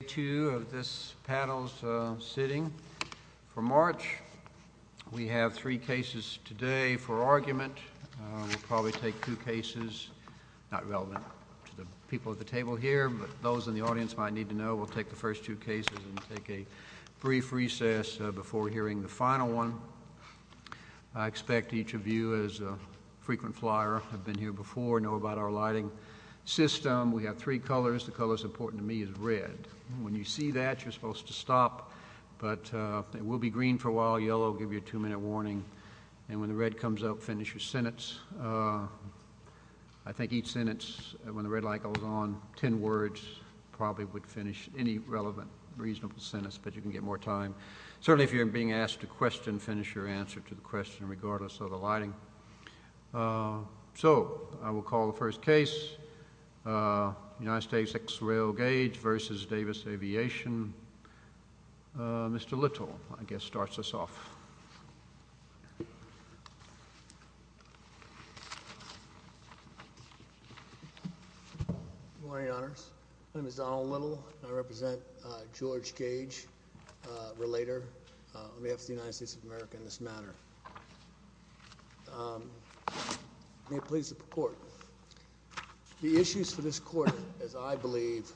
Day two of this panel's sitting for March. We have three cases today for argument. We'll probably take two cases, not relevant to the people at the table here, but those in the audience might need to know we'll take the first two cases and take a brief recess before hearing the final one. I expect each of you, as a frequent flyer, have been here before, know about our lighting system. We have three colors. The color that's important to me is red. When you see that, you're supposed to stop, but it will be green for a while. Yellow will give you a two-minute warning. And when the red comes up, finish your sentence. I think each sentence, when the red light goes on, ten words, probably would finish any relevant reasonable sentence, but you can get more time. Certainly, if you're being asked a question, finish your answer to the question, regardless of the lighting. So, I will call the first case. United States Ex-Rail Gage v. Davis Aviation. Mr. Little, I guess, starts us off. Good morning, Your Honors. My name is Donald Little, and I represent George Gage, Relator on behalf of the United States of America in this matter. May it please the Court. The issues for this Court, as I believe,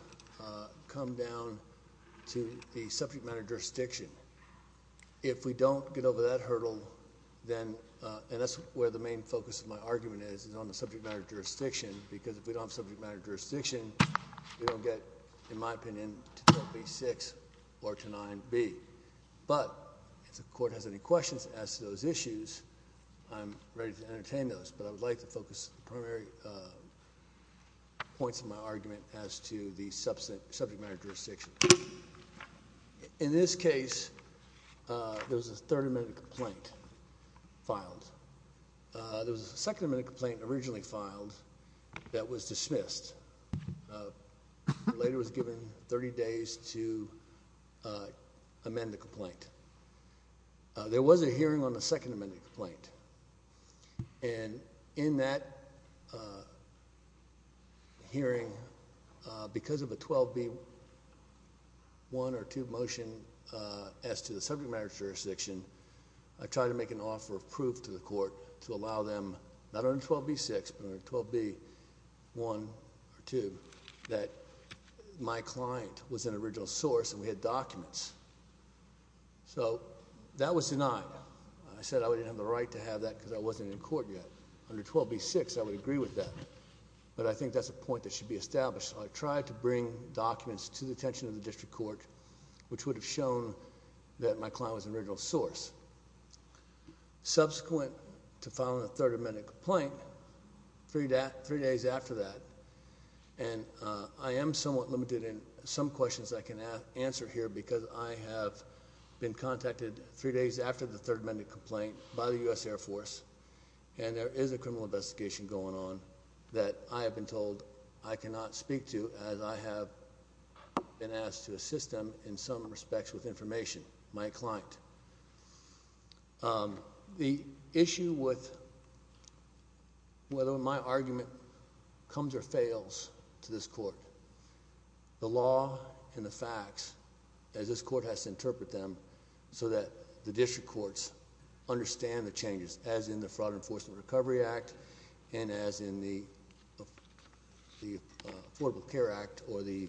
come down to the subject matter jurisdiction. If we don't get over that hurdle, then, and that's where the main focus of my argument is, is on the subject matter jurisdiction, because if we don't have subject matter jurisdiction, we don't get, in my opinion, to 10b-6 or to 9b. But, if the Court has any questions as to those issues, I'm ready to entertain those. But I would like to focus the primary points of my argument as to the subject matter jurisdiction. In this case, there was a Third Amendment complaint filed. There was a Second Amendment complaint originally filed that was dismissed. Relator was given 30 days to amend the complaint. There was a hearing on the Second Amendment complaint. And in that hearing, because of a 12b-1 or 2 motion as to the subject matter jurisdiction, I tried to make an offer of proof to the Court to allow them, not under 12b-6, but under 12b-1 or 2, that my client was an original source and we had documents. So, that was denied. I said I didn't have the right to have that because I wasn't in court yet. Under 12b-6, I would agree with that. But I think that's a point that should be established. So, I tried to bring documents to the attention of the District Court, which would have shown that my client was an original source. Subsequent to filing a Third Amendment complaint, three days after that, and I am somewhat limited in some questions I can answer here because I have been contacted three days after the Third Amendment complaint by the U.S. Air Force. And there is a criminal investigation going on that I have been told I cannot speak to as I have been asked to assist them in some respects with information. My client. The issue with whether my argument comes or fails to this Court, the law and the facts, as this Court has to interpret them, so that the District Courts understand the changes as in the Fraud Enforcement Recovery Act and as in the Affordable Care Act or the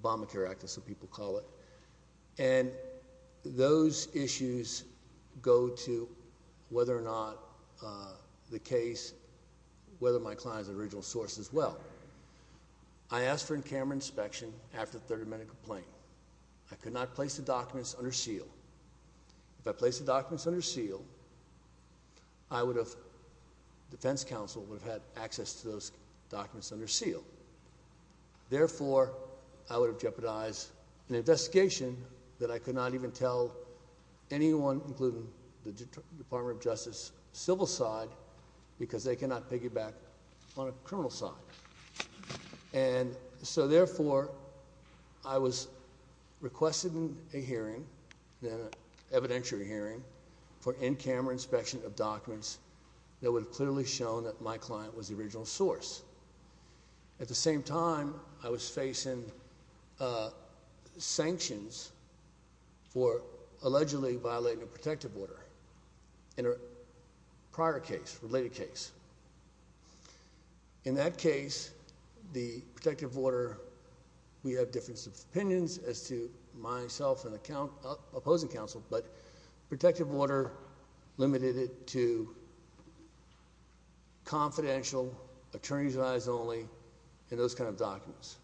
Obamacare Act, as some people call it. And those issues go to whether or not the case, whether my client is an original source as well. I asked for a camera inspection after the Third Amendment complaint. I could not place the documents under seal. If I placed the documents under seal, I would have, the defense counsel would have had access to those documents under seal. Therefore, I would have jeopardized an investigation that I could not even tell anyone, including the Department of Justice civil side, because they cannot piggyback on a criminal side. And so, therefore, I was requested in a hearing, an evidentiary hearing, for in-camera inspection of documents that would have clearly shown that my client was the original source. At the same time, I was facing sanctions for allegedly violating a protective order in a prior case, related case. In that case, the protective order, we have different opinions as to myself and the opposing counsel, but protective order limited it to confidential, attorneys' eyes only, and those kind of documents.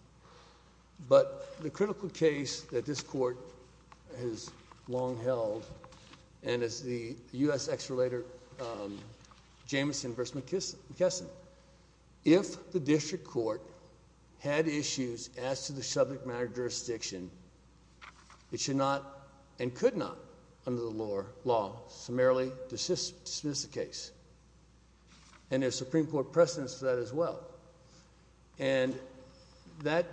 But the critical case that this court has long held, and it's the U.S. ex-relator Jamison v. McKesson. If the district court had issues as to the subject matter of jurisdiction, it should not and could not, under the law, summarily dismiss the case. And there's Supreme Court precedence for that as well. And that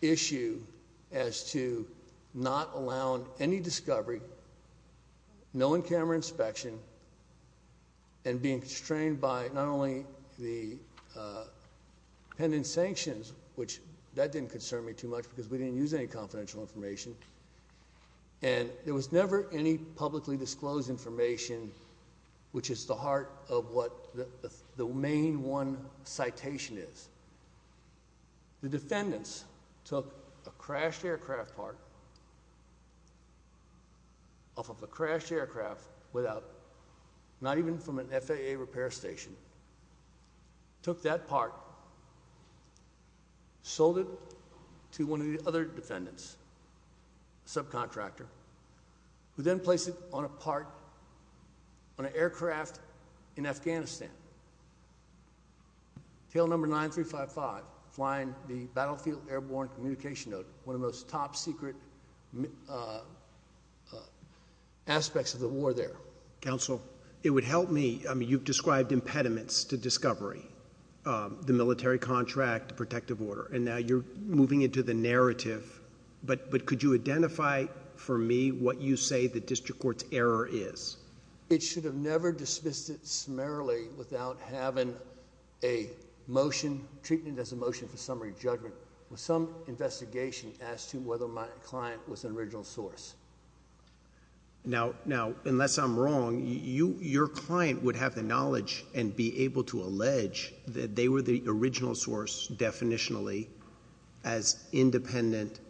issue as to not allowing any discovery, no in-camera inspection, and being constrained by not only the pending sanctions, which that didn't concern me too much because we didn't use any confidential information, and there was never any publicly disclosed information, which is the heart of what the main one citation is. The defendants took a crashed aircraft part off of a crashed aircraft without, not even from an FAA repair station, took that part, sold it to one of the other defendants, subcontractor, who then placed it on a part on an aircraft in Afghanistan, tail number 9355, flying the Battlefield Airborne Communication Note, one of the most top-secret aspects of the war there. Counsel, it would help me, I mean, you've described impediments to discovery, the military contract, protective order, and now you're moving into the narrative. But could you identify for me what you say the district court's error is? It should have never dismissed it summarily without having a motion, treating it as a motion for summary judgment, with some investigation as to whether my client was an original source. Now, unless I'm wrong, your client would have the knowledge and be able to allege that they were the original source definitionally as independent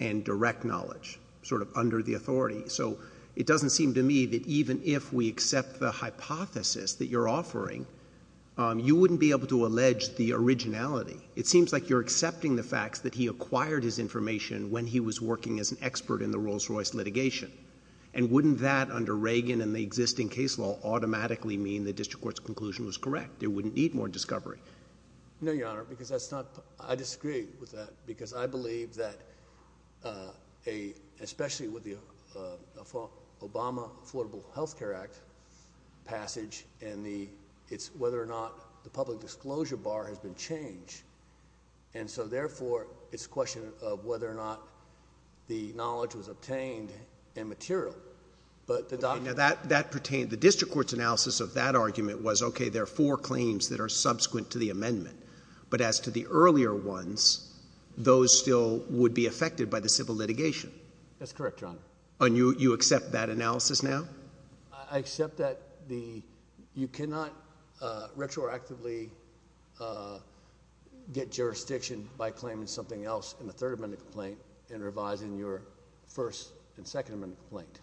and direct knowledge, sort of under the authority. So it doesn't seem to me that even if we accept the hypothesis that you're offering, you wouldn't be able to allege the originality. It seems like you're accepting the fact that he acquired his information when he was working as an expert in the Rolls-Royce litigation. And wouldn't that, under Reagan and the existing case law, automatically mean the district court's conclusion was correct? It wouldn't need more discovery. No, Your Honor, because I disagree with that, because I believe that, especially with the Obama Affordable Health Care Act passage and whether or not the public disclosure bar has been changed, and so, therefore, it's a question of whether or not the knowledge was obtained and material. Okay, now that pertained. The district court's analysis of that argument was, okay, there are four claims that are subsequent to the amendment, but as to the earlier ones, those still would be affected by the civil litigation. That's correct, Your Honor. And you accept that analysis now? I accept that you cannot retroactively get jurisdiction by claiming something else in the third amended complaint and revising your first and second amended complaint.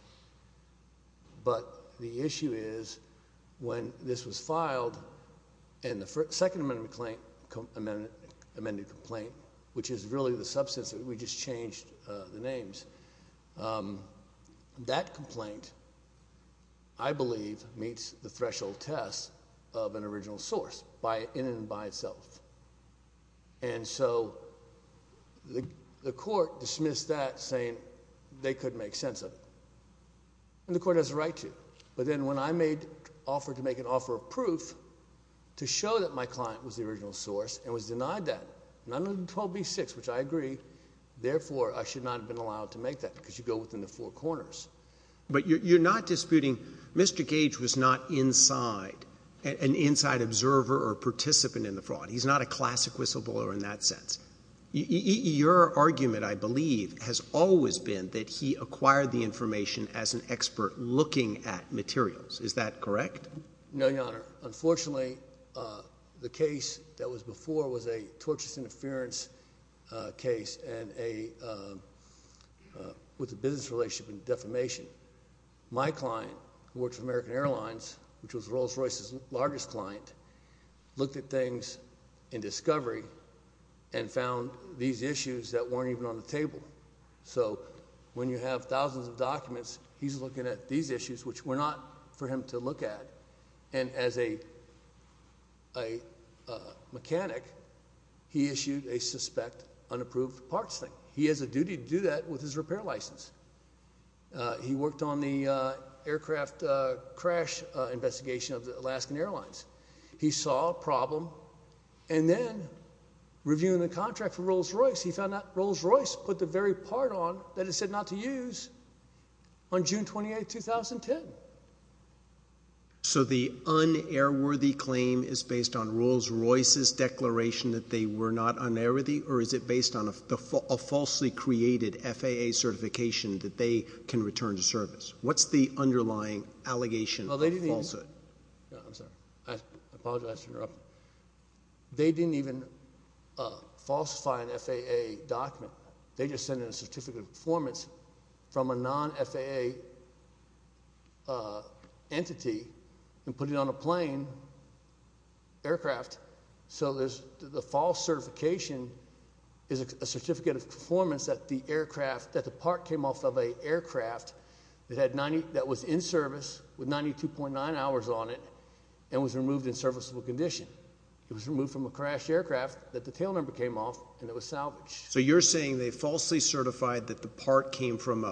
But the issue is when this was filed in the second amended complaint, which is really the substance that we just changed the names, that complaint, I believe, meets the threshold test of an original source in and by itself. And so the court dismissed that, saying they couldn't make sense of it. And the court has a right to. But then when I made an offer to make an offer of proof to show that my client was the original source and was denied that, which I agree, therefore I should not have been allowed to make that because you go within the four corners. But you're not disputing Mr. Gage was not an inside observer or participant in the fraud. He's not a classic whistleblower in that sense. Your argument, I believe, has always been that he acquired the information as an expert looking at materials. Is that correct? No, Your Honor. Unfortunately, the case that was before was a torturous interference case with a business relationship and defamation. My client, who works for American Airlines, which was Rolls-Royce's largest client, looked at things in discovery and found these issues that weren't even on the table. So when you have thousands of documents, he's looking at these issues, which were not for him to look at. And as a mechanic, he issued a suspect unapproved parts thing. He has a duty to do that with his repair license. He worked on the aircraft crash investigation of the Alaskan Airlines. He saw a problem, and then reviewing the contract for Rolls-Royce, he found that Rolls-Royce put the very part on that it said not to use on June 28, 2010. So the un-airworthy claim is based on Rolls-Royce's declaration that they were not un-airworthy, or is it based on a falsely created FAA certification that they can return to service? What's the underlying allegation of falsehood? I'm sorry. I apologize for interrupting. They didn't even falsify an FAA document. They just sent in a certificate of performance from a non-FAA entity and put it on a plane aircraft. So the false certification is a certificate of performance that the aircraft, that the part came off of an aircraft that was in service with 92.9 hours on it and was removed in serviceable condition. It was removed from a crashed aircraft that the tail number came off, and it was salvaged. So you're saying they falsely certified that the part came from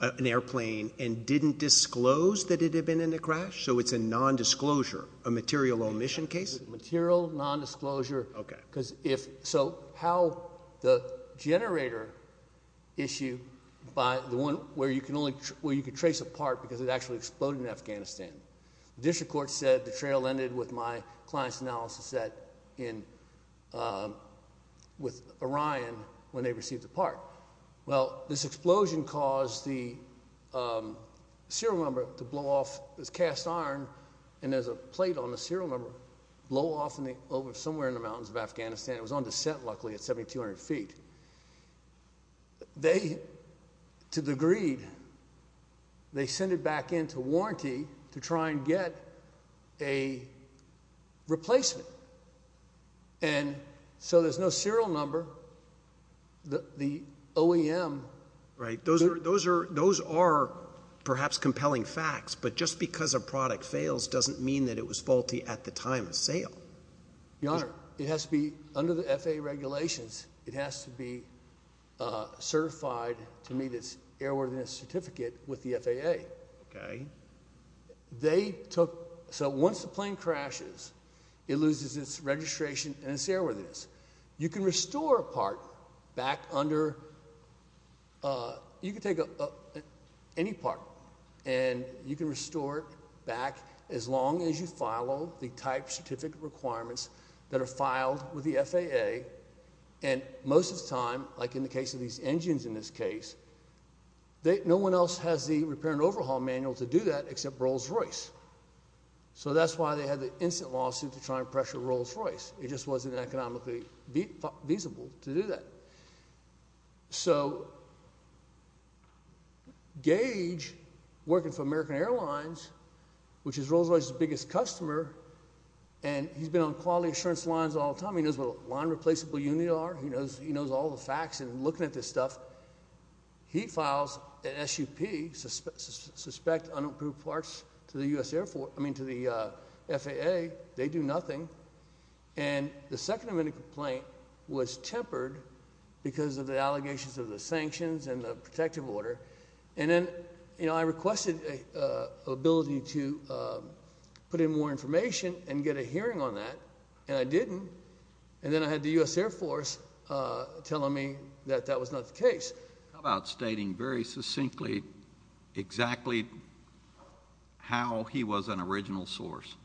an airplane and didn't disclose that it had been in a crash? So it's a nondisclosure, a material omission case? Material nondisclosure. Okay. So how the generator issue, the one where you can trace a part because it actually exploded in Afghanistan, the district court said the trail ended with my client's analysis with Orion when they received the part. Well, this explosion caused the serial number to blow off this cast iron, and there's a plate on the serial number, blow off somewhere in the mountains of Afghanistan. It was on descent, luckily, at 7,200 feet. They, to the greed, they sent it back into warranty to try and get a replacement. And so there's no serial number. The OEM. Right. Those are perhaps compelling facts, but just because a product fails doesn't mean that it was faulty at the time of sale. Your Honor, it has to be under the FAA regulations. It has to be certified to meet its airworthiness certificate with the FAA. Okay. They took, so once the plane crashes, it loses its registration and its airworthiness. You can restore a part back under, you can take any part, and you can restore it back as long as you follow the type certificate requirements that are filed with the FAA. And most of the time, like in the case of these engines in this case, no one else has the repair and overhaul manual to do that except Rolls-Royce. So that's why they had the instant lawsuit to try and pressure Rolls-Royce. It just wasn't economically feasible to do that. So Gage, working for American Airlines, which is Rolls-Royce's biggest customer, and he's been on quality assurance lines all the time. He knows what line replaceable units are. He knows all the facts and looking at this stuff. He files an SUP, suspect unapproved parts, to the FAA. They do nothing. And the second amendment complaint was tempered because of the allegations of the sanctions and the protective order. And then I requested an ability to put in more information and get a hearing on that, and I didn't. And then I had the U.S. Air Force telling me that that was not the case. How about stating very succinctly exactly how he was an original source?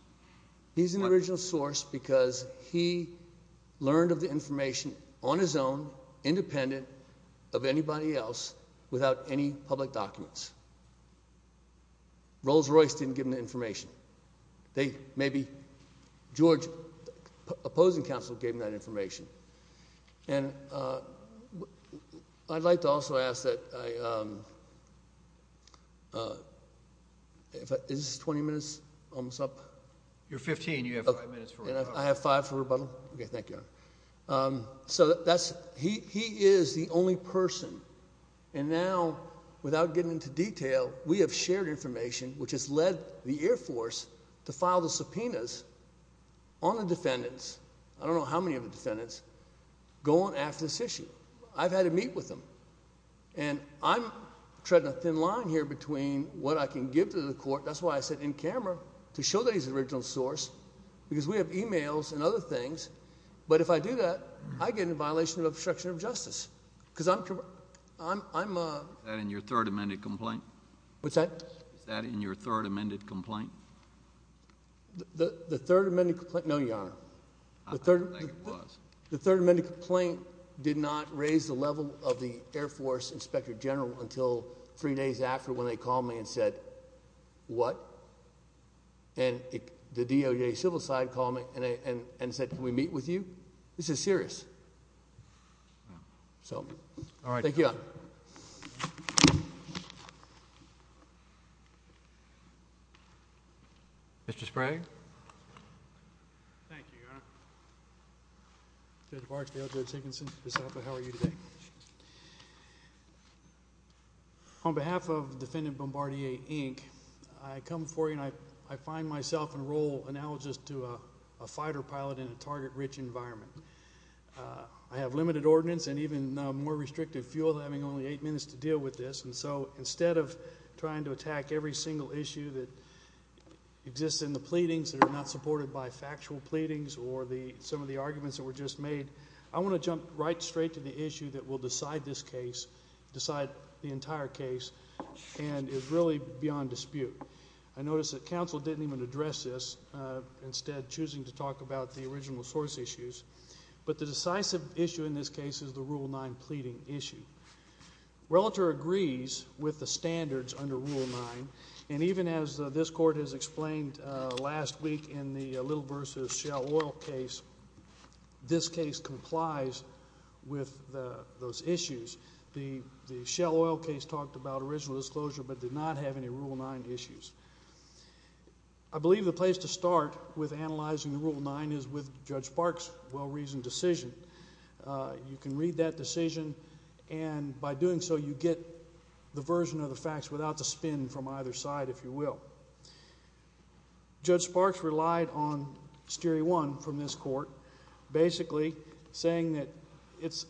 He's an original source because he learned of the information on his own, independent of anybody else, without any public documents. Rolls-Royce didn't give him the information. Maybe George's opposing counsel gave him that information. And I'd like to also ask that I ‑‑ is this 20 minutes? Almost up? You're 15. You have five minutes for rebuttal. I have five for rebuttal? Okay, thank you. So he is the only person, and now, without getting into detail, we have shared information, which has led the Air Force to file the subpoenas on the defendants. I don't know how many of the defendants. Go on after this issue. I've had to meet with them. And I'm treading a thin line here between what I can give to the court. That's why I said in camera, to show that he's an original source, because we have e-mails and other things. But if I do that, I get in violation of obstruction of justice, because I'm ‑‑ Is that in your third amended complaint? What's that? Is that in your third amended complaint? The third amended ‑‑ no, Your Honor. I don't think it was. The third amended complaint did not raise the level of the Air Force Inspector General until three days after when they called me and said, what? And the DOJ civil side called me and said, can we meet with you? So, thank you, Your Honor. Mr. Sprague. Thank you, Your Honor. Judge Barksdale, Judge Higginson, DeSalvo, how are you today? On behalf of Defendant Bombardier, Inc., I come before you and I find myself in a role analogous to a fighter pilot in a target‑rich environment. I have limited ordinance and even more restrictive fuel, having only eight minutes to deal with this. And so, instead of trying to attack every single issue that exists in the pleadings that are not supported by factual pleadings or some of the arguments that were just made, I want to jump right straight to the issue that will decide this case, decide the entire case, and is really beyond dispute. I notice that counsel didn't even address this, instead choosing to talk about the original source issues. But the decisive issue in this case is the Rule 9 pleading issue. Relator agrees with the standards under Rule 9, and even as this court has explained last week in the Little v. Shell Oil case, this case complies with those issues. The Shell Oil case talked about original disclosure but did not have any Rule 9 issues. I believe the place to start with analyzing the Rule 9 is with Judge Barks' well‑reasoned decision. You can read that decision, and by doing so, you get the version of the facts without the spin from either side, if you will. Judge Barks relied on Steere 1 from this court, basically saying that it's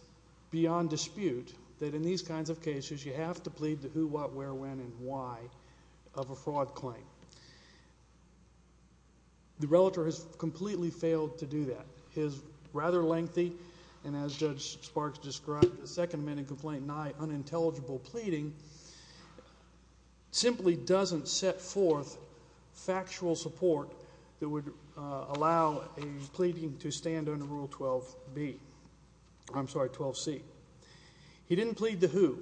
beyond dispute that in these kinds of cases, you have to plead the who, what, where, when, and why of a fraud claim. The relator has completely failed to do that. His rather lengthy, and as Judge Barks described, the Second Amendment Complaint 9 unintelligible pleading simply doesn't set forth factual support that would allow a pleading to stand under Rule 12c. He didn't plead the who.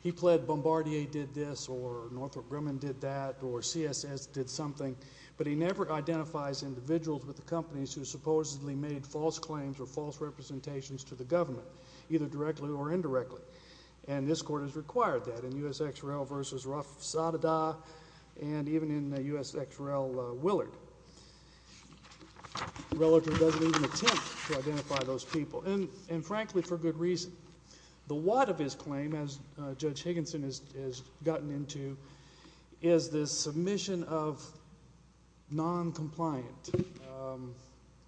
He pled Bombardier did this, or Northrop Grumman did that, or CSS did something, but he never identifies individuals with the companies who supposedly made false claims or false representations to the government, either directly or indirectly, and this court has required that in U.S.X.R.L. v. Raffsada, and even in U.S.X.R.L. Willard. Relator doesn't even attempt to identify those people, and frankly, for good reason. The what of his claim, as Judge Higginson has gotten into, is the submission of noncompliant,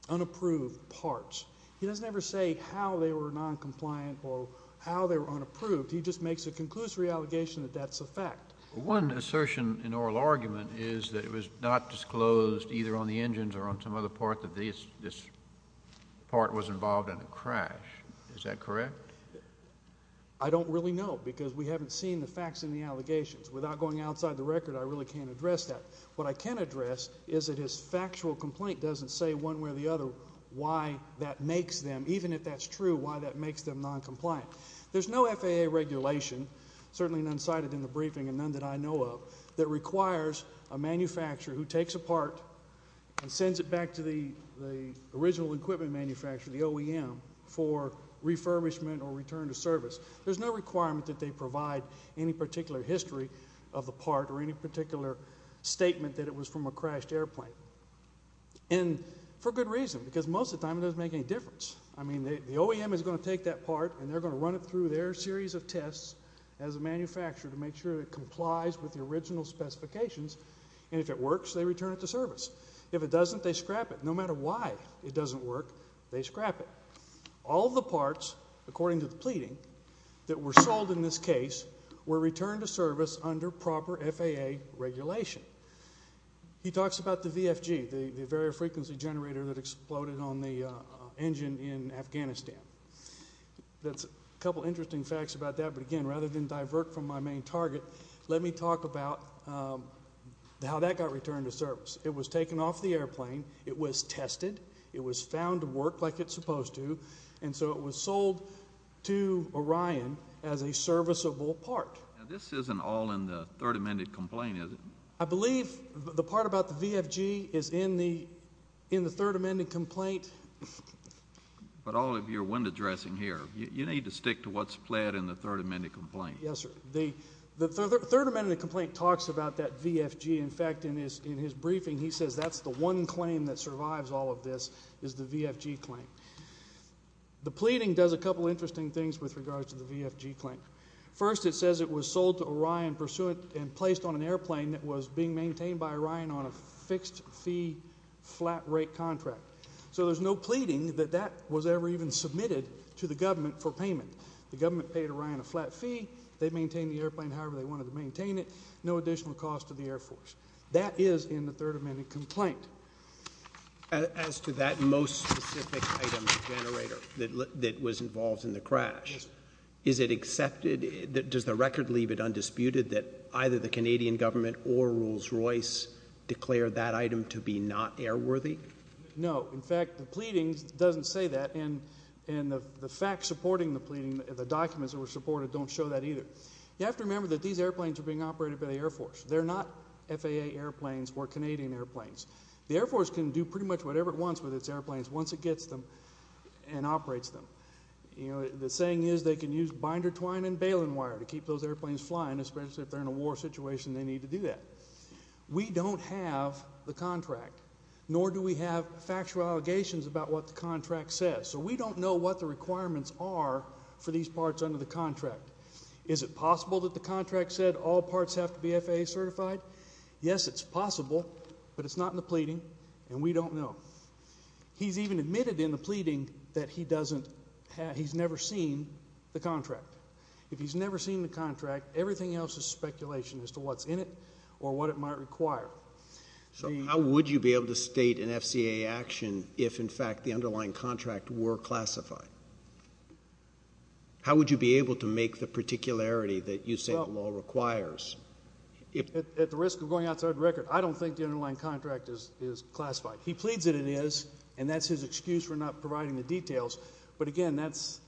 unapproved parts. He doesn't ever say how they were noncompliant or how they were unapproved. He just makes a conclusory allegation that that's a fact. One assertion in oral argument is that it was not disclosed either on the engines or on some other part that this part was involved in a crash. Is that correct? I don't really know because we haven't seen the facts in the allegations. Without going outside the record, I really can't address that. What I can address is that his factual complaint doesn't say one way or the other why that makes them, even if that's true, why that makes them noncompliant. There's no FAA regulation, certainly none cited in the briefing and none that I know of, that requires a manufacturer who takes a part and sends it back to the original equipment manufacturer, the OEM, for refurbishment or return to service. There's no requirement that they provide any particular history of the part or any particular statement that it was from a crashed airplane, and for good reason because most of the time it doesn't make any difference. I mean, the OEM is going to take that part and they're going to run it through their series of tests as a manufacturer to make sure it complies with the original specifications, and if it works, they return it to service. If it doesn't, they scrap it. No matter why it doesn't work, they scrap it. All the parts, according to the pleading, that were sold in this case were returned to service under proper FAA regulation. He talks about the VFG, the variable frequency generator that exploded on the engine in Afghanistan. That's a couple interesting facts about that, but again, rather than divert from my main target, let me talk about how that got returned to service. It was taken off the airplane. It was tested. It was found to work like it's supposed to, and so it was sold to Orion as a serviceable part. Now, this isn't all in the Third Amendment complaint, is it? I believe the part about the VFG is in the Third Amendment complaint. But all of your wind-dressing here, you need to stick to what's pled in the Third Amendment complaint. Yes, sir. The Third Amendment complaint talks about that VFG. In fact, in his briefing, he says that's the one claim that survives all of this is the VFG claim. The pleading does a couple interesting things with regards to the VFG claim. First, it says it was sold to Orion and placed on an airplane that was being maintained by Orion on a fixed-fee, flat-rate contract. So there's no pleading that that was ever even submitted to the government for payment. The government paid Orion a flat fee. They maintained the airplane however they wanted to maintain it, no additional cost to the Air Force. That is in the Third Amendment complaint. As to that most specific item, the generator, that was involved in the crash, is it accepted? Does the record leave it undisputed that either the Canadian government or Rolls-Royce declared that item to be not airworthy? No. In fact, the pleading doesn't say that, and the facts supporting the pleading, the documents that were supported don't show that either. You have to remember that these airplanes were being operated by the Air Force. They're not FAA airplanes or Canadian airplanes. The Air Force can do pretty much whatever it wants with its airplanes once it gets them and operates them. The saying is they can use binder twine and baling wire to keep those airplanes flying, especially if they're in a war situation and they need to do that. We don't have the contract, nor do we have factual allegations about what the contract says. So we don't know what the requirements are for these parts under the contract. Is it possible that the contract said all parts have to be FAA certified? Yes, it's possible, but it's not in the pleading, and we don't know. He's even admitted in the pleading that he's never seen the contract. If he's never seen the contract, everything else is speculation as to what's in it or what it might require. So how would you be able to state an FCAA action if, in fact, the underlying contract were classified? How would you be able to make the particularity that you say the law requires? At the risk of going outside the record, I don't think the underlying contract is classified. He pleads that it is, and that's his excuse for not providing the details. But, again, that's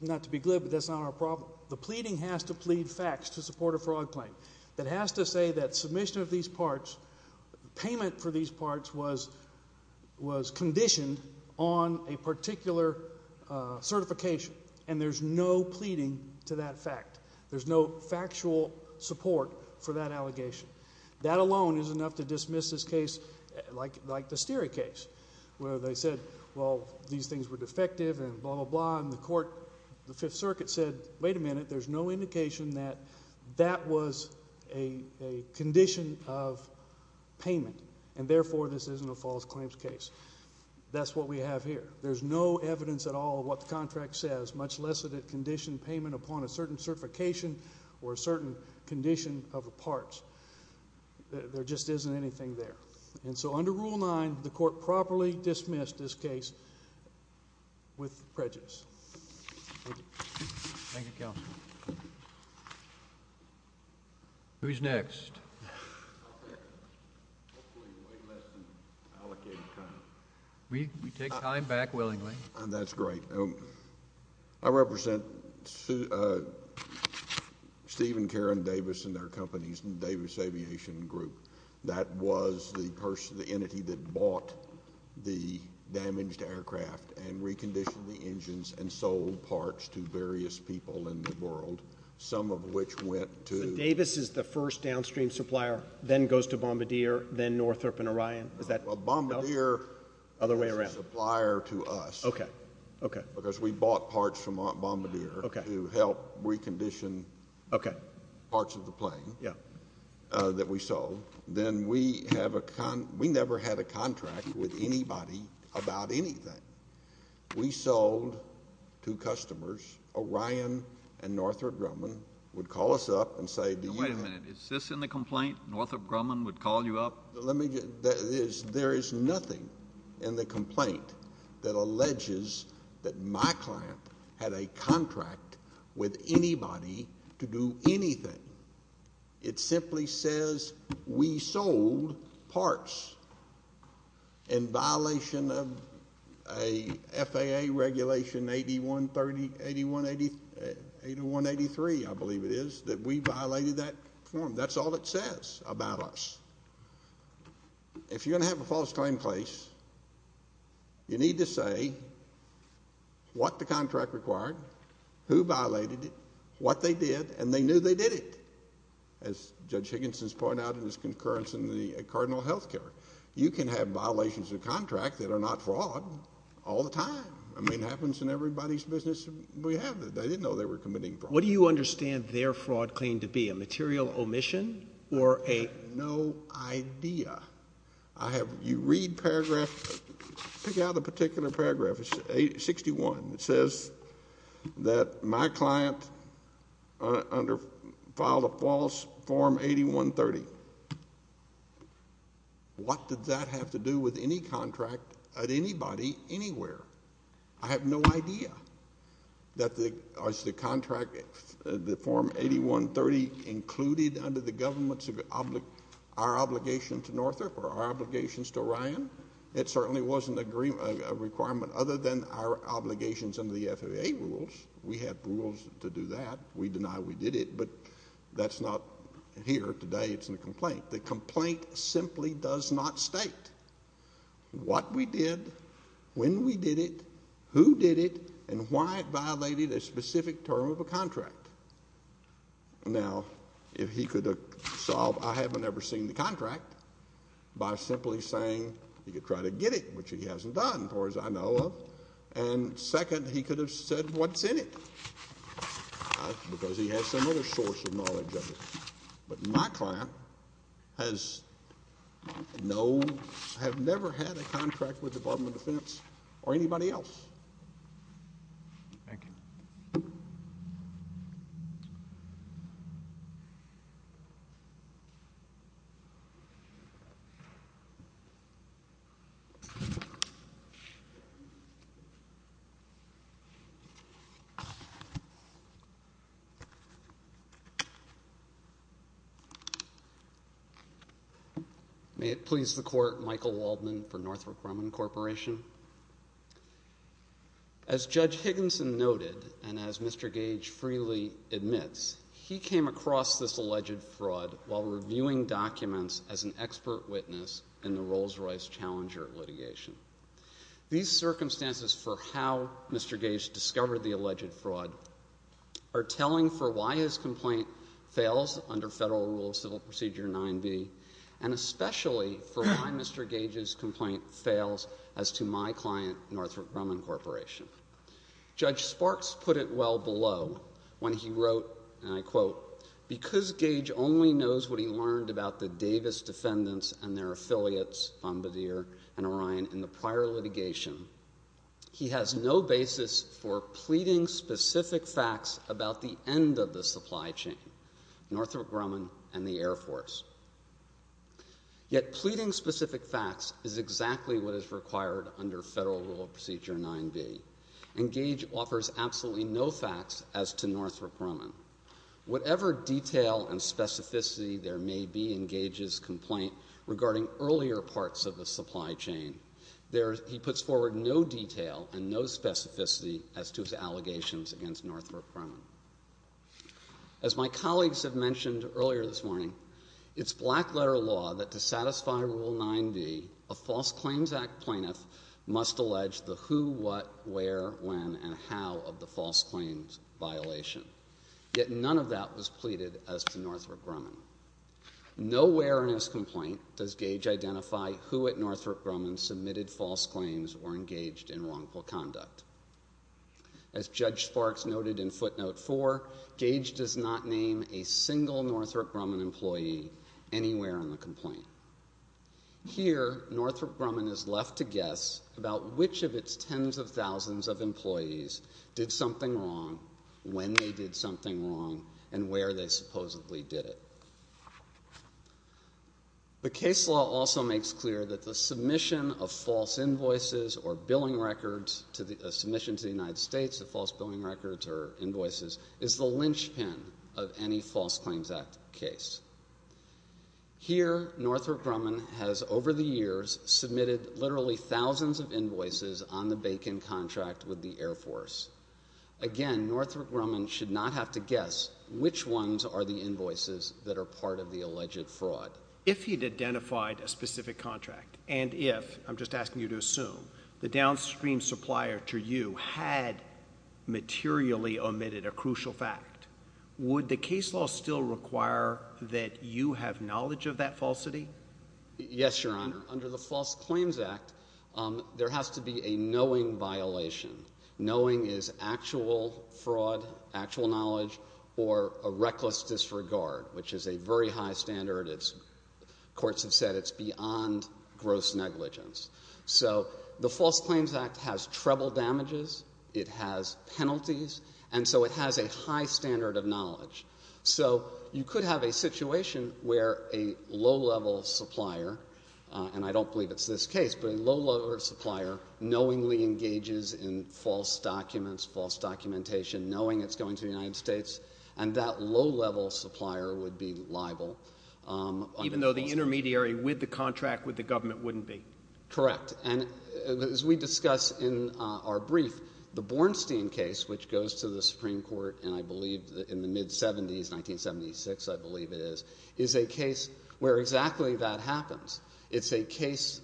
not to be glib, but that's not our problem. The pleading has to plead facts to support a fraud claim. That has to say that submission of these parts, payment for these parts was conditioned on a particular certification, and there's no pleading to that fact. There's no factual support for that allegation. That alone is enough to dismiss this case like the Steere case where they said, well, these things were defective and blah, blah, blah, and the court, the Fifth Circuit said, wait a minute, there's no indication that that was a condition of payment, and, therefore, this isn't a false claims case. That's what we have here. There's no evidence at all of what the contract says, much less that it conditioned payment upon a certain certification or a certain condition of the parts. There just isn't anything there. And so under Rule 9, the court properly dismissed this case with prejudice. Thank you. Thank you, counsel. Who's next? We take time back willingly. That's great. I represent Steve and Karen Davis and their companies, Davis Aviation Group. That was the entity that bought the damaged aircraft and reconditioned the engines and sold parts to various people in the world, some of which went to — So Davis is the first downstream supplier, then goes to Bombardier, then Northrop and Orion? Is that — Well, Bombardier was a supplier to us because we bought parts from Bombardier to help recondition parts of the plane that we sold. Then we have a — we never had a contract with anybody about anything. We sold to customers. Orion and Northrop Grumman would call us up and say, do you have — Wait a minute. Is this in the complaint? Northrop Grumman would call you up? Let me get — there is nothing in the complaint that alleges that my client had a contract with anybody to do anything. It simply says we sold parts in violation of a FAA regulation 8183, I believe it is, that we violated that form. That's all it says about us. If you're going to have a false claim place, you need to say what the contract required, who violated it, what they did, and they knew they did it, as Judge Higginson has pointed out in his concurrence in the cardinal health care. You can have violations of contract that are not fraud all the time. I mean, it happens in everybody's business. We have it. They didn't know they were committing fraud. What do you understand their fraud claimed to be, a material omission or a — I have no idea. I have — you read paragraph — pick out a particular paragraph. Paragraph 61, it says that my client filed a false form 8130. What did that have to do with any contract at anybody, anywhere? I have no idea that the contract, the form 8130, included under the government our obligation to Northrop or our obligations to Ryan. It certainly wasn't a requirement other than our obligations under the FAA rules. We have rules to do that. We deny we did it, but that's not here today. It's in the complaint. The complaint simply does not state what we did, when we did it, who did it, and why it violated a specific term of a contract. Now, if he could have solved I haven't ever seen the contract by simply saying he could try to get it, which he hasn't done, as far as I know of. And second, he could have said what's in it, because he has some other source of knowledge of it. But my client has no — have never had a contract with the Department of Defense or anybody else. Thank you. May it please the Court, Michael Waldman for Northrop Grumman Corporation. As Judge Higginson noted, and as Mr. Gage freely admits, he came across this alleged fraud while reviewing documents as an expert witness in the Rolls-Royce Challenger litigation. These circumstances for how Mr. Gage discovered the alleged fraud are telling for why his complaint fails under Federal Rule of Civil Procedure 9b, and especially for why Mr. Gage's complaint fails as to my client, Northrop Grumman Corporation. Judge Sparks put it well below when he wrote, and I quote, because Gage only knows what he learned about the Davis defendants and their affiliates, Bombardier and Orion, in the prior litigation, he has no basis for pleading specific facts about the end of the supply chain, Northrop Grumman and the Air Force. Yet pleading specific facts is exactly what is required under Federal Rule of Procedure 9b, and Gage offers absolutely no facts as to Northrop Grumman. Whatever detail and specificity there may be in Gage's complaint regarding earlier parts of the supply chain, he puts forward no detail and no specificity as to his allegations against Northrop Grumman. As my colleagues have mentioned earlier this morning, it's black letter law that to satisfy Rule 9b, a False Claims Act plaintiff must allege the who, what, where, when, and how of the false claims violation. Yet none of that was pleaded as to Northrop Grumman. Nowhere in his complaint does Gage identify who at Northrop Grumman submitted false claims or engaged in wrongful conduct. As Judge Sparks noted in Footnote 4, Gage does not name a single Northrop Grumman employee anywhere in the complaint. Here, Northrop Grumman is left to guess about which of its tens of thousands of employees did something wrong, when they did something wrong, and where they supposedly did it. The case law also makes clear that the submission of false invoices or billing records, a submission to the United States of false billing records or invoices, is the linchpin of any False Claims Act case. Here, Northrop Grumman has, over the years, submitted literally thousands of invoices on the Bacon contract with the Air Force. Again, Northrop Grumman should not have to guess which ones are the invoices that are part of the alleged fraud. If he'd identified a specific contract, and if, I'm just asking you to assume, the downstream supplier to you had materially omitted a crucial fact, would the case law still require that you have knowledge of that falsity? Yes, Your Honor. Under the False Claims Act, there has to be a knowing violation. Knowing is actual fraud, actual knowledge, or a reckless disregard, which is a very high standard. It's, courts have said, it's beyond gross negligence. So the False Claims Act has treble damages, it has penalties, and so it has a high standard of knowledge. So you could have a situation where a low-level supplier, and I don't believe it's this case, but a low-level supplier knowingly engages in false documents, false documentation, knowing it's going to the United States, and that low-level supplier would be liable. Even though the intermediary with the contract with the government wouldn't be? Correct. And as we discuss in our brief, the Bornstein case, which goes to the Supreme Court and I believe in the mid-'70s, 1976, I believe it is, is a case where exactly that happens. It's a case,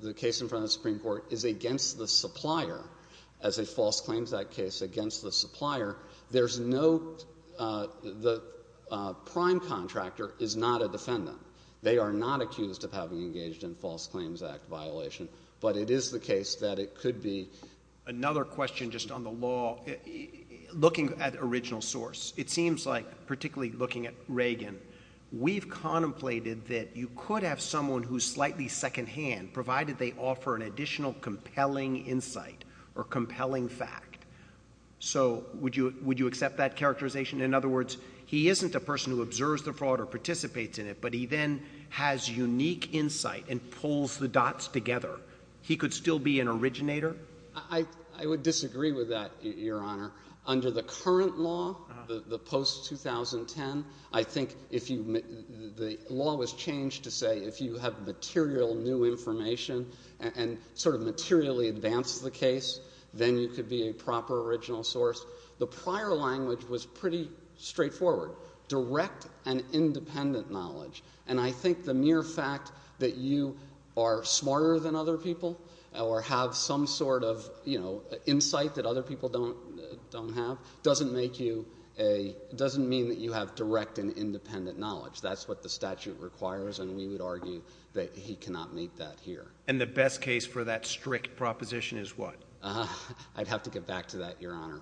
the case in front of the Supreme Court is against the supplier, as a False Claims Act case, against the supplier. There's no, the prime contractor is not a defendant. They are not accused of having engaged in False Claims Act violation, but it is the case that it could be. Another question just on the law. Looking at original source, it seems like, particularly looking at Reagan, we've contemplated that you could have someone who's slightly secondhand, provided they offer an additional compelling insight or compelling fact. So would you accept that characterization? In other words, he isn't a person who observes the fraud or participates in it, but he then has unique insight and pulls the dots together. He could still be an originator? I would disagree with that, Your Honor. Under the current law, the post-2010, I think if you, the law was changed to say if you have material new information and sort of materially advance the case, then you could be a proper original source. The prior language was pretty straightforward, direct and independent knowledge. And I think the mere fact that you are smarter than other people or have some sort of, you know, insight that other people don't have, doesn't make you a, doesn't mean that you have direct and independent knowledge. That's what the statute requires, and we would argue that he cannot meet that here. And the best case for that strict proposition is what? I'd have to get back to that, Your Honor.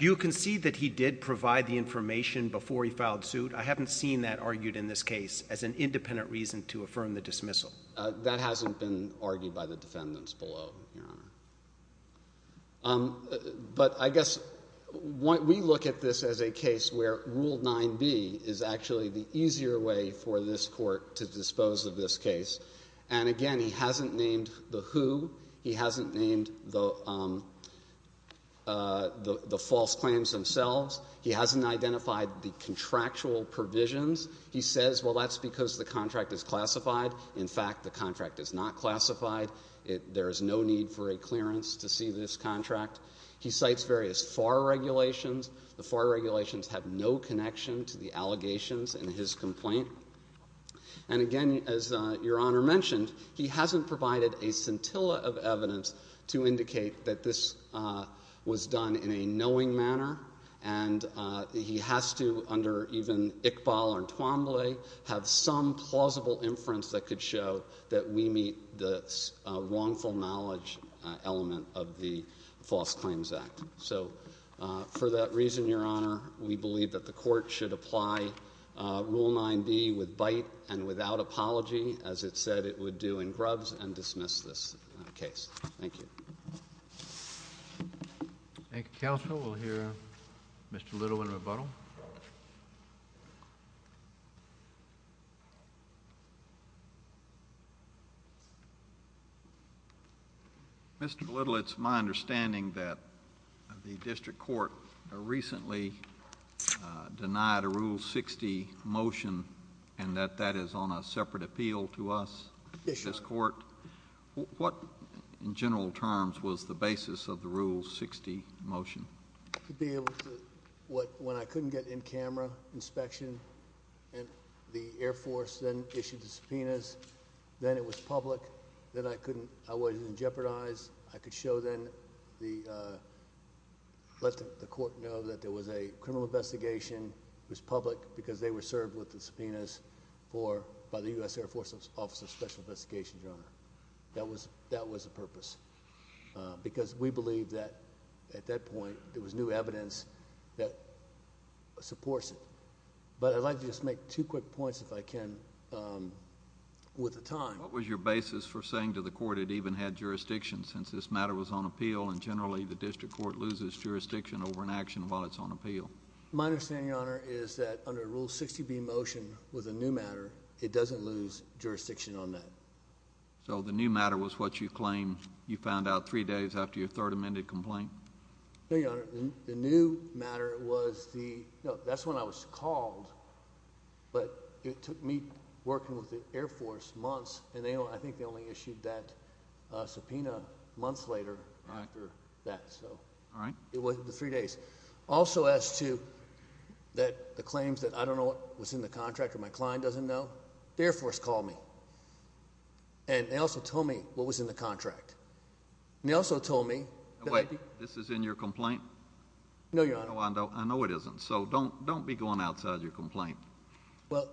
Do you concede that he did provide the information before he filed suit? I haven't seen that argued in this case as an independent reason to affirm the dismissal. That hasn't been argued by the defendants below, Your Honor. But I guess we look at this as a case where Rule 9b is actually the easier way for this court to dispose of this case. And, again, he hasn't named the who. He hasn't named the false claims themselves. He hasn't identified the contractual provisions. He says, well, that's because the contract is classified. In fact, the contract is not classified. There is no need for a clearance to see this contract. He cites various FAR regulations. The FAR regulations have no connection to the allegations in his complaint. And, again, as Your Honor mentioned, he hasn't provided a scintilla of evidence to indicate that this was done in a knowing manner. And he has to, under even Iqbal and Twombly, have some plausible inference that could show that we meet the wrongful knowledge element of the False Claims Act. So, for that reason, Your Honor, we believe that the court should apply Rule 9b with bite and without apology, as it said it would do in Grubbs, and dismiss this case. Thank you. Thank you, counsel. We'll hear Mr. Little in rebuttal. Mr. Little, it's my understanding that the district court recently denied a Rule 60 motion and that that is on a separate appeal to us, this court. Yes, Your Honor. What, in general terms, was the basis of the Rule 60 motion? To be able to, when I couldn't get in-camera inspection, and the Air Force then issued the subpoenas, then it was public, then I couldn't, I wasn't jeopardized. I could show then, let the court know that there was a criminal investigation. It was public because they were served with the subpoenas by the U.S. Air Force Office of Special Investigations, Your Honor. That was the purpose because we believe that, at that point, there was new evidence that supports it. But I'd like to just make two quick points, if I can, with the time. What was your basis for saying to the court it even had jurisdiction since this matter was on appeal and, generally, the district court loses jurisdiction over an action while it's on appeal? My understanding, Your Honor, is that under Rule 60b motion, with a new matter, it doesn't lose jurisdiction on that. So the new matter was what you claim you found out three days after your third amended complaint? No, Your Honor. The new matter was the, no, that's when I was called, but it took me working with the Air Force months, and I think they only issued that subpoena months later after that. All right. It was the three days. Also, as to the claims that I don't know what was in the contract or my client doesn't know, the Air Force called me, and they also told me what was in the contract. They also told me that I could— Wait. This is in your complaint? No, Your Honor. I know it isn't, so don't be going outside your complaint. Well,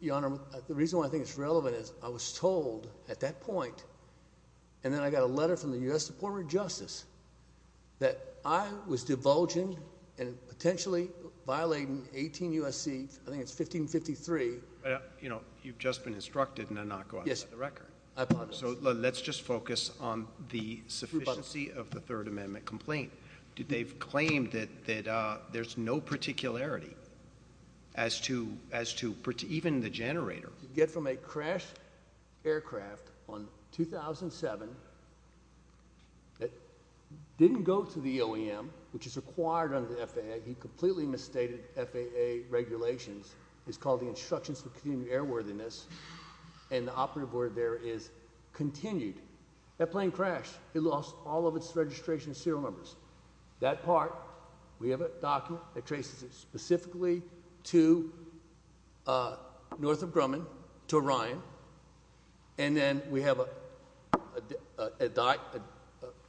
Your Honor, the reason why I think it's relevant is I was told at that point, and then I got a letter from the U.S. Department of Justice, that I was divulging and potentially violating 18 U.S.C., I think it's 1553— You know, you've just been instructed not to go outside the record. Yes, I apologize. So let's just focus on the sufficiency of the third amendment complaint. They've claimed that there's no particularity as to even the generator. You get from a crashed aircraft on 2007 that didn't go to the OEM, which is required under the FAA. He completely misstated FAA regulations. It's called the Instructions for Continued Airworthiness, and the operative word there is continued. That plane crashed. It lost all of its registration serial numbers. That part, we have a document that traces it specifically to north of Grumman, to Orion, and then we have an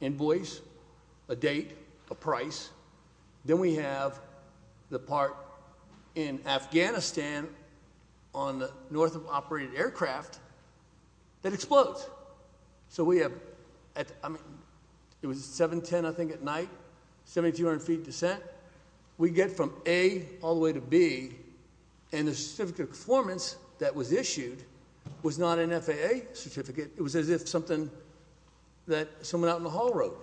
invoice, a date, a price. Then we have the part in Afghanistan on the north of operated aircraft that explodes. So we have—I mean, it was 7-10, I think, at night, 7,200 feet descent. We get from A all the way to B, and the certificate of performance that was issued was not an FAA certificate. It was as if something that someone out in the hall wrote.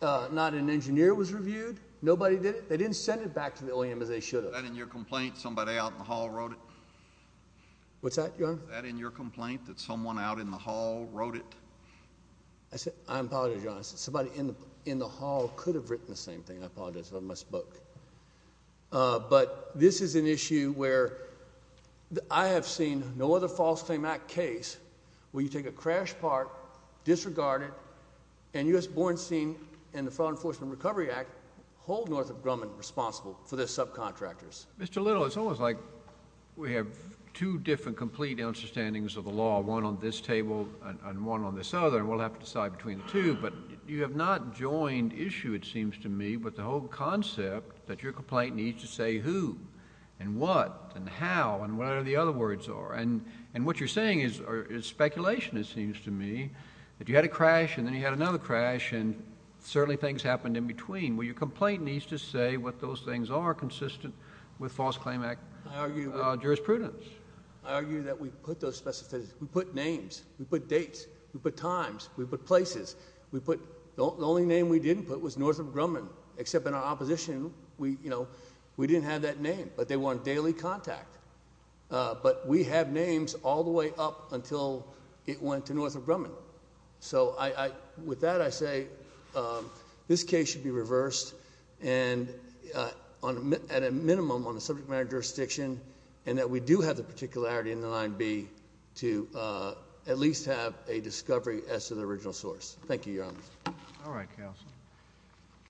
Not an engineer was reviewed. Nobody did it. They didn't send it back to the OEM as they should have. Was that in your complaint, somebody out in the hall wrote it? What's that, Your Honor? Was that in your complaint that someone out in the hall wrote it? I apologize, Your Honor. Somebody in the hall could have written the same thing. I apologize if I misspoke. But this is an issue where I have seen no other false claim act case where you take a crash part, disregard it, and U.S. Bornstein and the Fraud Enforcement Recovery Act hold Northrop Grumman responsible for their subcontractors. Mr. Little, it's almost like we have two different complete understandings of the law, one on this table and one on this other, and we'll have to decide between the two. But you have not joined issue, it seems to me, with the whole concept that your complaint needs to say who and what and how and whatever the other words are. And what you're saying is speculation, it seems to me, that you had a crash and then you had another crash and certainly things happened in between. Well, your complaint needs to say what those things are consistent with false claim act jurisprudence. I argue that we put those specifications. We put names. We put dates. We put times. We put places. The only name we didn't put was Northrop Grumman, except in our opposition we didn't have that name, but they were on daily contact. But we have names all the way up until it went to Northrop Grumman. So with that I say this case should be reversed at a minimum on the subject matter jurisdiction and that we do have the particularity in the 9B to at least have a discovery as to the original source. Thank you, Your Honor. All right, counsel.